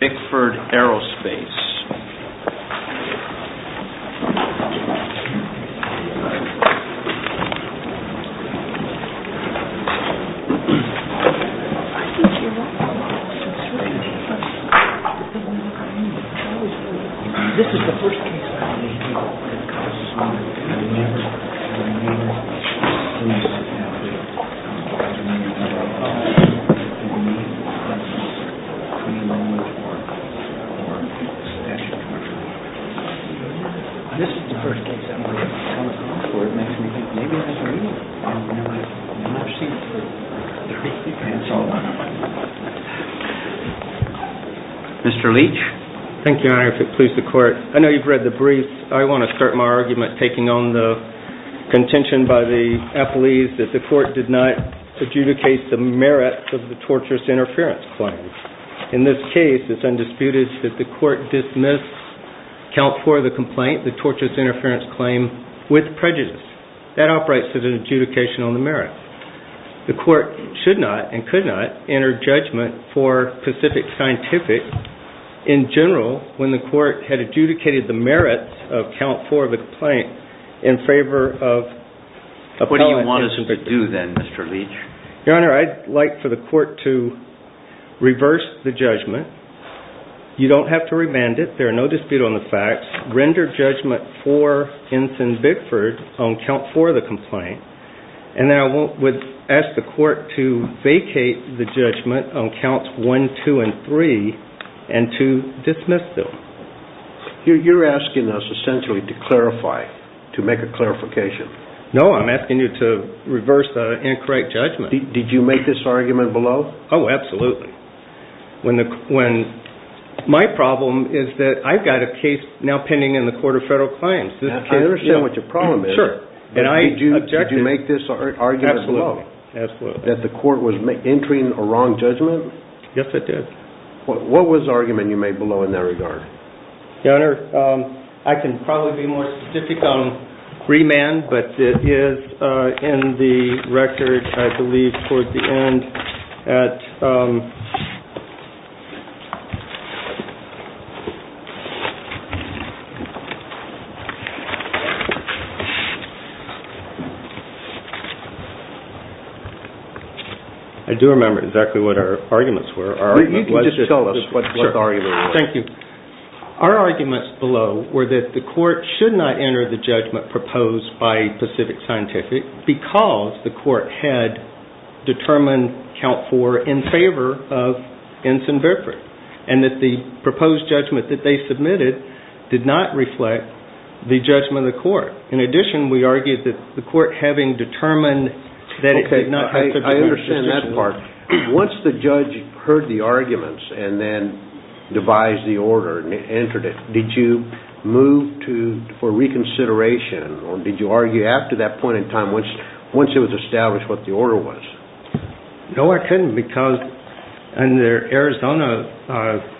Ensign-Bickford Aerospace Ensign-Bickford Aerospace Ensign-Bickford Aerospace Mr. Leach. Thank you, Your Honor, if it please the Court. I know you've read the briefs. I want to start my argument taking on the contention by the athletes that the court did not adjudicate the merits of the torturous interference claim. In this case, it's undisputed that the court dismissed Count 4 of the complaint, the torturous interference claim, with prejudice. That operates as an adjudication on the merits. The court should not, and could not, enter judgment for Pacific Scientific in general when the court had adjudicated the merits of Count 4 of the complaint in favor of appellant... What do you want us to do then, Mr. Leach? Your Honor, I'd like for the court to reverse the judgment. You don't have to remand it. There is no dispute on the facts. Render judgment for Ensign-Bickford on Count 4 of the complaint. And then I would ask the court to vacate the judgment on Counts 1, 2, and 3 and to dismiss them. You're asking us essentially to clarify, to make a clarification. No, I'm asking you to reverse the incorrect judgment. Did you make this argument below? Oh, absolutely. My problem is that I've got a case now pending in the Court of Federal Claims. I understand what your problem is. Did you make this argument below? Absolutely. That the court was entering a wrong judgment? Yes, I did. What was the argument you made below in that regard? Your Honor, I can probably be more specific on remand, but it is in the record, I believe, towards the end at... I do remember exactly what our arguments were. You can just tell us what the argument was. Thank you. Our arguments below were that the court should not enter the judgment proposed by Pacific Scientific because the court had determined Count 4 in favor of Ensign-Bickford and that the proposed judgment that they submitted did not reflect the judgment of the court. In addition, we argued that the court having determined that it did not have to... I understand that part. Once the judge heard the arguments and then devised the order and entered it, did you move for reconsideration or did you argue after that point in time once it was established what the order was? No, I couldn't because under Arizona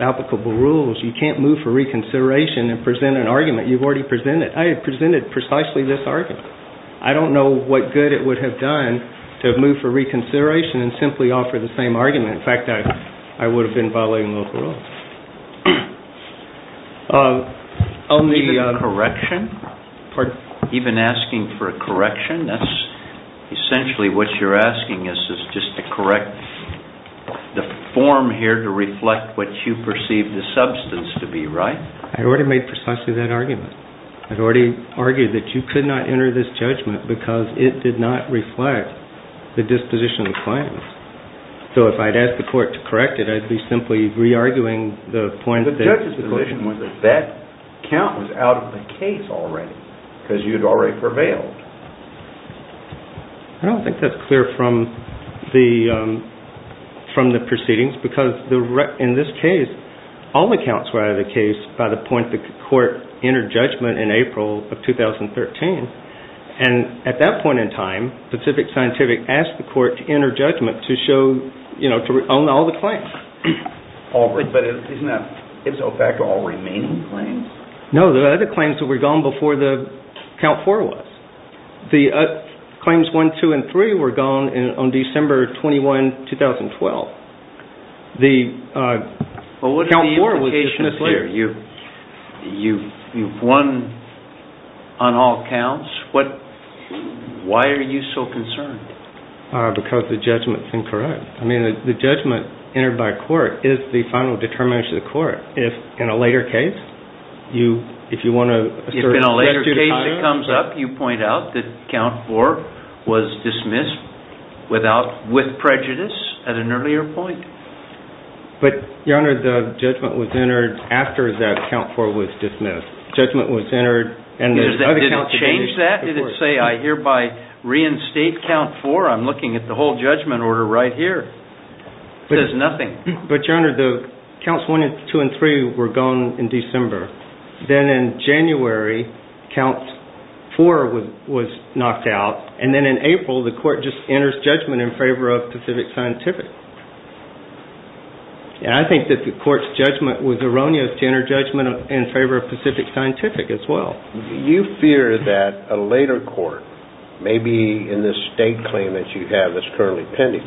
applicable rules, you can't move for reconsideration and present an argument you've already presented. I had presented precisely this argument. I don't know what good it would have done to have moved for reconsideration and simply offered the same argument. In fact, I would have been violating local rules. A correction? Pardon? Even asking for a correction? That's essentially what you're asking is just to correct the form here to reflect what you perceive the substance to be, right? I already made precisely that argument. I've already argued that you could not enter this judgment because it did not reflect the disposition of the client. So if I'd asked the court to correct it, I'd be simply re-arguing the point that... The judge's position was that that count was out of the case already because you'd already prevailed. I don't think that's clear from the proceedings because in this case, all the counts were out of the case by the point the court entered judgment in April of 2013. And at that point in time, Pacific Scientific asked the court to enter judgment to show, you know, to own all the claims. But isn't that, it was OPEC, all remaining claims? No, the other claims that were gone before the count four was. The claims one, two, and three were gone on December 21, 2012. The count four was dismissed later. Well, what are the implications here? You've won on all counts. Why are you so concerned? Because the judgment's incorrect. I mean, the judgment entered by court is the final determination of the court. If in a later case, you, if you want to assert... In the case that comes up, you point out that count four was dismissed without, with prejudice at an earlier point. But, Your Honor, the judgment was entered after that count four was dismissed. Judgment was entered and... Did it change that? Did it say, I hereby reinstate count four? I'm looking at the whole judgment order right here. It says nothing. But, Your Honor, the counts one, two, and three were gone in December. Then in January, count four was knocked out. And then in April, the court just enters judgment in favor of Pacific Scientific. And I think that the court's judgment was erroneous to enter judgment in favor of Pacific Scientific as well. You fear that a later court, maybe in this state claim that you have that's currently pending,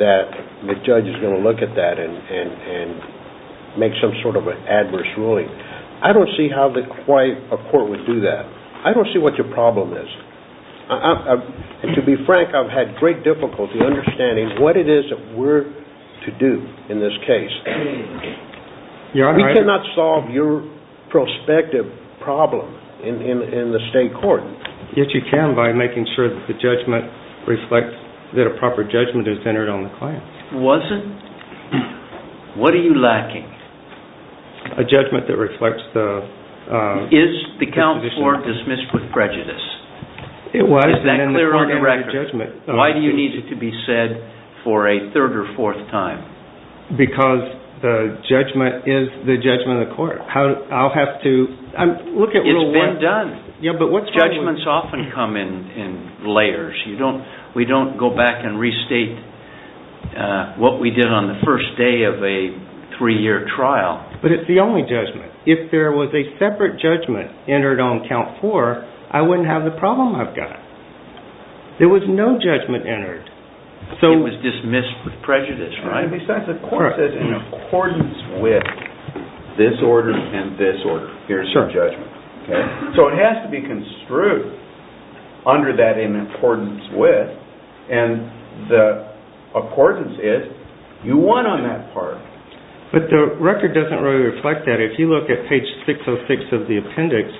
that the judge is going to look at that and make some sort of an adverse ruling. I don't see how quite a court would do that. I don't see what your problem is. To be frank, I've had great difficulty understanding what it is that we're to do in this case. Your Honor, I... We cannot solve your prospective problem in the state court. Yes, you can by making sure that the judgment reflects that a proper judgment is entered on the claim. Was it? What are you lacking? A judgment that reflects the... Is the count four dismissed with prejudice? It was. Is that clear on the record? Why do you need it to be said for a third or fourth time? Because the judgment is the judgment of the court. I'll have to... It's been done. Judgments often come in layers. We don't go back and restate what we did on the first day of a three-year trial. But it's the only judgment. If there was a separate judgment entered on count four, I wouldn't have the problem I've got. There was no judgment entered. It was dismissed with prejudice, right? It says in accordance with this order and this order. So it has to be construed under that in accordance with. And the accordance is you won on that part. But the record doesn't really reflect that. If you look at page 606 of the appendix,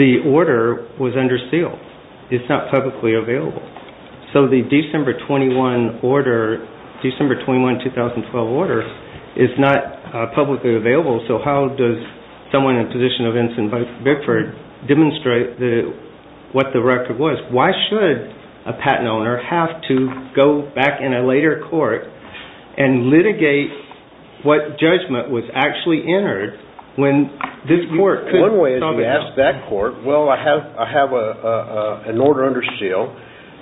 the order was under seal. It's not publicly available. So the December 21 order, December 21, 2012 order is not publicly available. So how does someone in the position of Vincent Beckford demonstrate what the record was? Why should a patent owner have to go back in a later court and litigate what judgment was actually entered when this court couldn't? One way is to ask that court, well, I have an order under seal.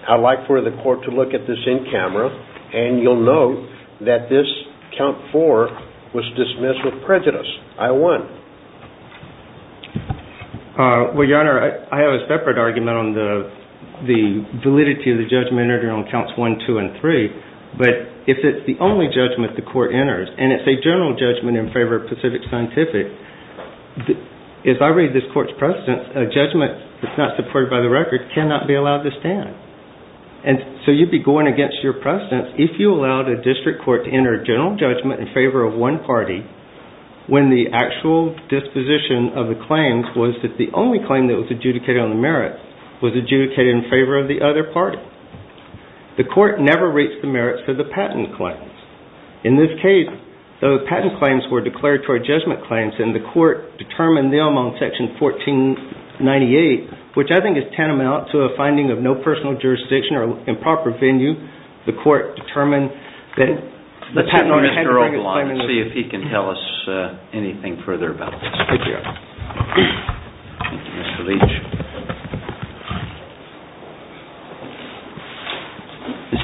I'd like for the court to look at this in camera. And you'll note that this count four was dismissed with prejudice. I won. Well, Your Honor, I have a separate argument on the validity of the judgment entered on counts one, two, and three. But if it's the only judgment the court enters, and it's a general judgment in favor of Pacific Scientific, if I read this court's precedence, a judgment that's not supported by the record cannot be allowed to stand. And so you'd be going against your precedence if you allowed a district court to enter a general judgment in favor of one party when the actual disposition of the claims was that the only claim that was adjudicated on the merits was adjudicated in favor of the other party. The court never reached the merits of the patent claims. In this case, those patent claims were declaratory judgment claims, and the court determined them on Section 1498, which I think is tantamount to a finding of no personal jurisdiction or improper venue. The court determined that the patent owner had to make a claim in the- Let's go to Mr. Obalon and see if he can tell us anything further about this. Thank you, Your Honor. Thank you, Mr. Leach.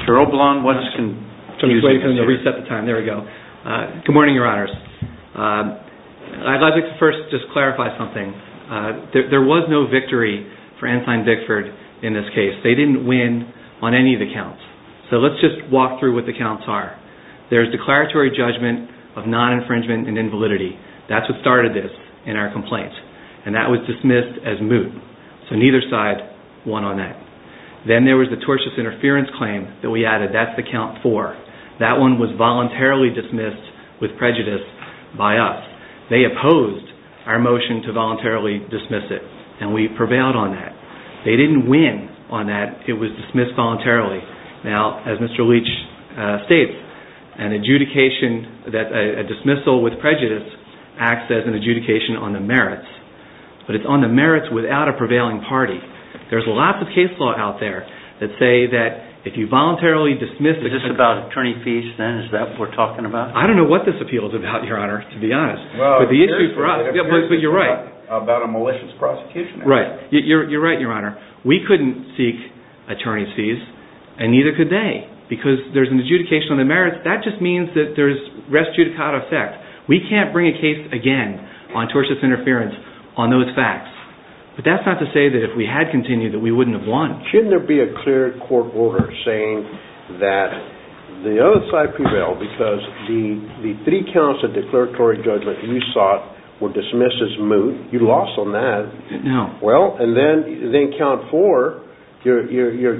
Mr. Obalon, once again- Wait, let me reset the time. There we go. Good morning, Your Honors. I'd like to first just clarify something. There was no victory for Ensign Bickford in this case. They didn't win on any of the counts. So let's just walk through what the counts are. There's declaratory judgment of non-infringement and invalidity. That's what started this in our complaint, and that was dismissed as moot. So neither side won on that. Then there was the tortious interference claim that we added. That's the count four. That one was voluntarily dismissed with prejudice by us. They opposed our motion to voluntarily dismiss it, and we prevailed on that. They didn't win on that. It was dismissed voluntarily. Now, as Mr. Leach states, a dismissal with prejudice acts as an adjudication on the merits, but it's on the merits without a prevailing party. There's lots of case law out there that say that if you voluntarily dismiss- Is this about attorney fees then? Is that what we're talking about? I don't know what this appeal is about, Your Honor, to be honest. But the issue for us- But you're right. About a malicious prosecution. Right. You're right, Your Honor. We couldn't seek attorney fees, and neither could they, because there's an adjudication on the merits. That just means that there's res judicata effect. We can't bring a case again on tortious interference on those facts. But that's not to say that if we had continued that we wouldn't have won. Shouldn't there be a clear court order saying that the other side prevailed because the three counts of declaratory judgment you sought were dismissed as moot? You lost on that. No. Well, and then count four, your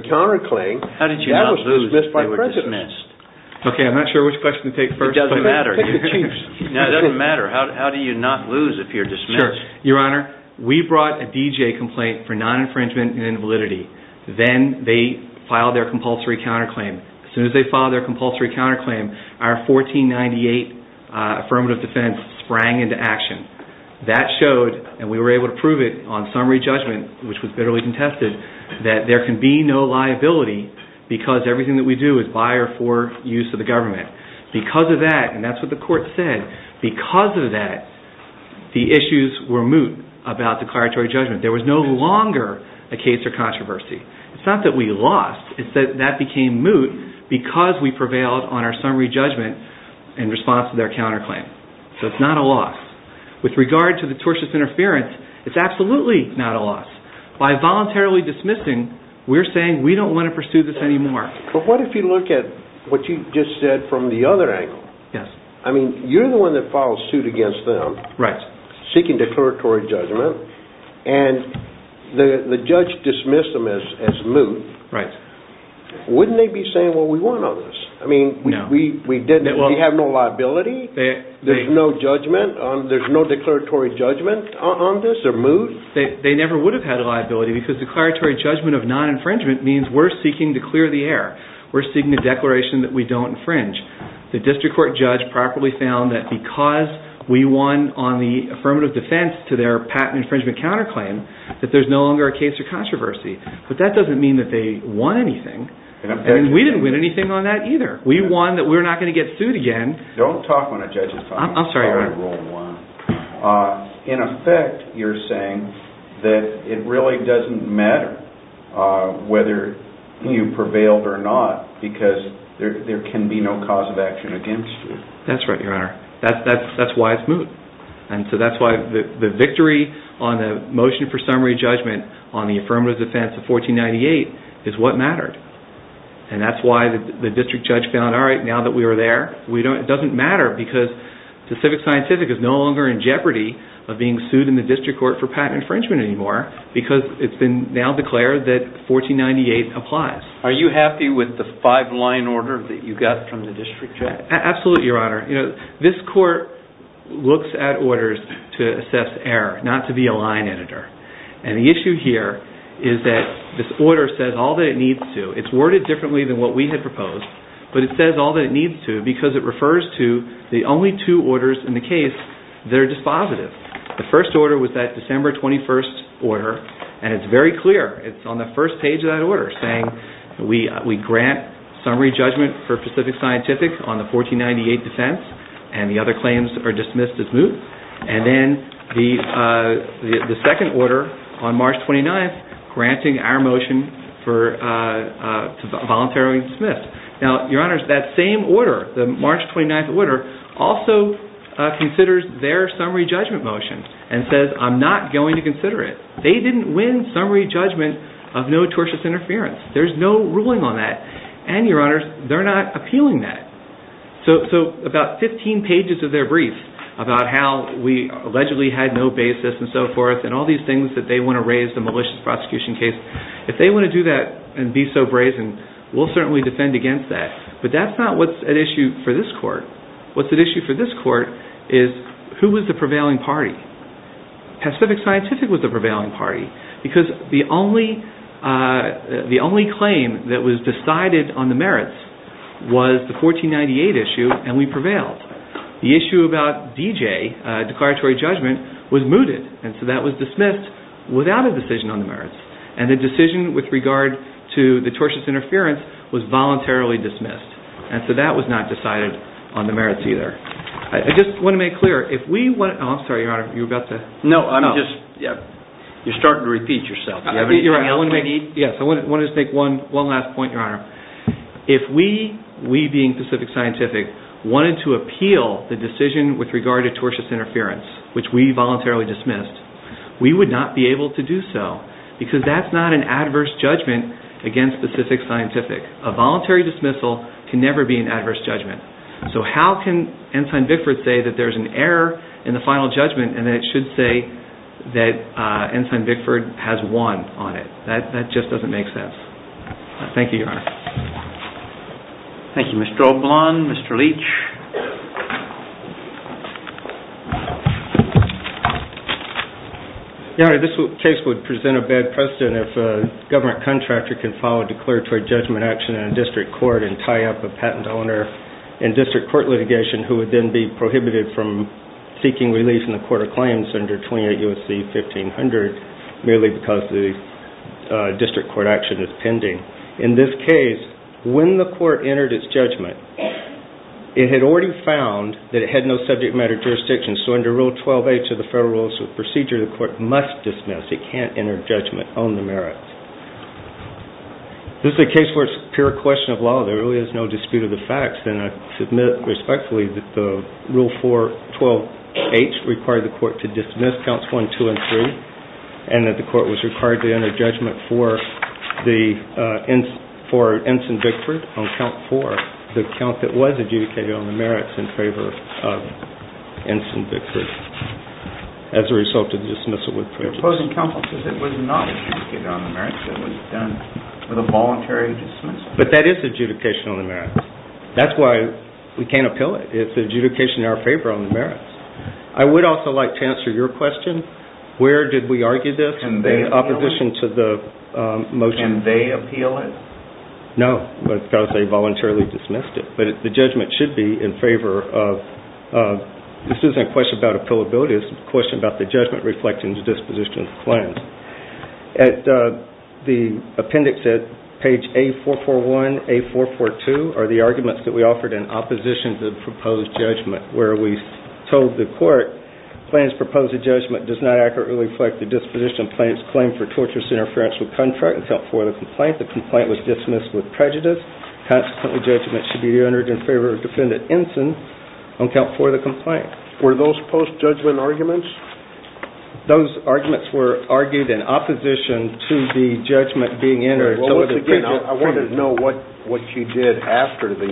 counterclaim, that was dismissed by prejudice. How did you not lose if they were dismissed? Okay, I'm not sure which question to take first. It doesn't matter. It doesn't matter. How do you not lose if you're dismissed? Your Honor, we brought a D.J. complaint for non-infringement and invalidity. Then they filed their compulsory counterclaim. As soon as they filed their compulsory counterclaim, our 1498 affirmative defense sprang into action. That showed, and we were able to prove it on summary judgment, which was bitterly contested, that there can be no liability because everything that we do is by or for use of the government. Because of that, and that's what the court said, because of that, the issues were moot about declaratory judgment. There was no longer a case or controversy. It's not that we lost. It's that that became moot because we prevailed on our summary judgment in response to their counterclaim. So it's not a loss. With regard to the tortious interference, it's absolutely not a loss. By voluntarily dismissing, we're saying we don't want to pursue this anymore. But what if you look at what you just said from the other angle? Yes. I mean, you're the one that filed suit against them. Right. Seeking declaratory judgment, and the judge dismissed them as moot. Right. Wouldn't they be saying, well, we won on this? I mean, we have no liability? There's no judgment? There's no declaratory judgment on this or moot? They never would have had a liability, because declaratory judgment of non-infringement means we're seeking to clear the air. We're seeking a declaration that we don't infringe. The district court judge properly found that because we won on the affirmative defense to their patent infringement counterclaim, that there's no longer a case or controversy. But that doesn't mean that they won anything. And we didn't win anything on that either. We won that we're not going to get sued again. Don't talk when a judge is talking. I'm sorry. In effect, you're saying that it really doesn't matter whether you prevailed or not, because there can be no cause of action against you. That's right, Your Honor. That's why it's moot. And so that's why the victory on the motion for summary judgment on the affirmative defense of 1498 is what mattered. And that's why the district judge found, all right, now that we were there, it doesn't matter, because the civic scientific is no longer in jeopardy of being sued in the district court for patent infringement anymore, because it's been now declared that 1498 applies. Are you happy with the five-line order that you got from the district judge? Absolutely, Your Honor. This court looks at orders to assess error, not to be a line editor. And the issue here is that this order says all that it needs to. It's worded differently than what we had proposed, but it says all that it needs to because it refers to the only two orders in the case that are dispositive. The first order was that December 21st order, and it's very clear. It's on the first page of that order saying we grant summary judgment for Pacific Scientific on the 1498 defense, and the other claims are dismissed as moot. And then the second order on March 29th granting our motion for voluntarily dismissed. Now, Your Honors, that same order, the March 29th order, also considers their summary judgment motion and says I'm not going to consider it. They didn't win summary judgment of no tortious interference. There's no ruling on that. And, Your Honors, they're not appealing that. So about 15 pages of their brief about how we allegedly had no basis and so forth and all these things that they want to raise, the malicious prosecution case, if they want to do that and be so brazen, we'll certainly defend against that. But that's not what's at issue for this court. What's at issue for this court is who was the prevailing party. Pacific Scientific was the prevailing party because the only claim that was decided on the merits was the 1498 issue, and we prevailed. The issue about D.J., declaratory judgment, was mooted. And so that was dismissed without a decision on the merits. And the decision with regard to the tortious interference was voluntarily dismissed. And so that was not decided on the merits either. I just want to make clear, if we want to – oh, I'm sorry, Your Honor. You were about to – No, I know. You're starting to repeat yourself. Yes, I want to just make one last point, Your Honor. If we, we being Pacific Scientific, wanted to appeal the decision with regard to tortious interference, which we voluntarily dismissed, we would not be able to do so because that's not an adverse judgment against Pacific Scientific. A voluntary dismissal can never be an adverse judgment. So how can Ensign Bickford say that there's an error in the final judgment and then it should say that Ensign Bickford has won on it? That just doesn't make sense. Thank you, Your Honor. Thank you, Mr. O'Blawn. Mr. Leach. Your Honor, this case would present a bad precedent if a government contractor can file a declaratory judgment action in a district court and tie up a patent owner in district court litigation who would then be prohibited from seeking relief in the court of claims under 28 U.S.C. 1500 merely because the district court action is pending. In this case, when the court entered its judgment, it had already found that it had no subject matter jurisdiction. So under Rule 12H of the Federal Rules of Procedure, the court must dismiss. It can't enter judgment on the merits. This is a case where it's pure question of law. There really is no dispute of the facts. And that the court was required to enter judgment for Ensign Bickford on Count 4, the count that was adjudicated on the merits in favor of Ensign Bickford as a result of the dismissal. Your opposing counsel says it was not adjudicated on the merits. It was done with a voluntary dismissal. But that is adjudication on the merits. That's why we can't appeal it. It's adjudication in our favor on the merits. I would also like to answer your question. Where did we argue this? In opposition to the motion. Can they appeal it? No, because they voluntarily dismissed it. But the judgment should be in favor of This isn't a question about appealability. It's a question about the judgment reflecting the disposition of the claims. At the appendix at page A441, A442, are the arguments that we offered in opposition to the proposed judgment where we told the court, Plaintiff's proposed judgment does not accurately reflect the disposition of plaintiff's claim for torturous interference with contract on Count 4 of the complaint. The complaint was dismissed with prejudice. Consequently, judgment should be entered in favor of Defendant Ensign on Count 4 of the complaint. Were those post-judgment arguments? Those arguments were argued in opposition to the judgment being entered. I want to know what you did after the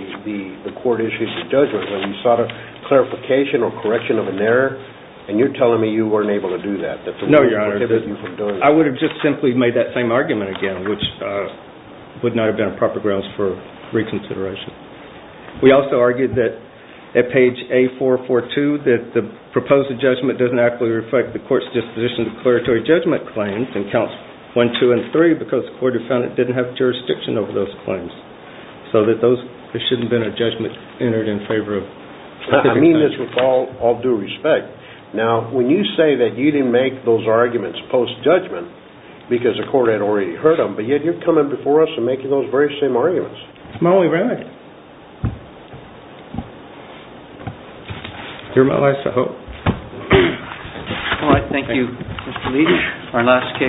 court issued the judgment. You sought a clarification or correction of an error, and you're telling me you weren't able to do that. No, Your Honor. I would have just simply made that same argument again, which would not have been a proper grounds for reconsideration. We also argued that at page A442, that the proposed judgment doesn't accurately reflect the court's disposition to declaratory judgment claims in Counts 1, 2, and 3, because the court of defendant didn't have jurisdiction over those claims. So there shouldn't have been a judgment entered in favor of Defendant Ensign. I mean this with all due respect. Now, when you say that you didn't make those arguments post-judgment because the court had already heard them, but yet you're coming before us and making those very same arguments. It's my only remnant. They're my last, I hope. All right. Thank you, Mr. Leach.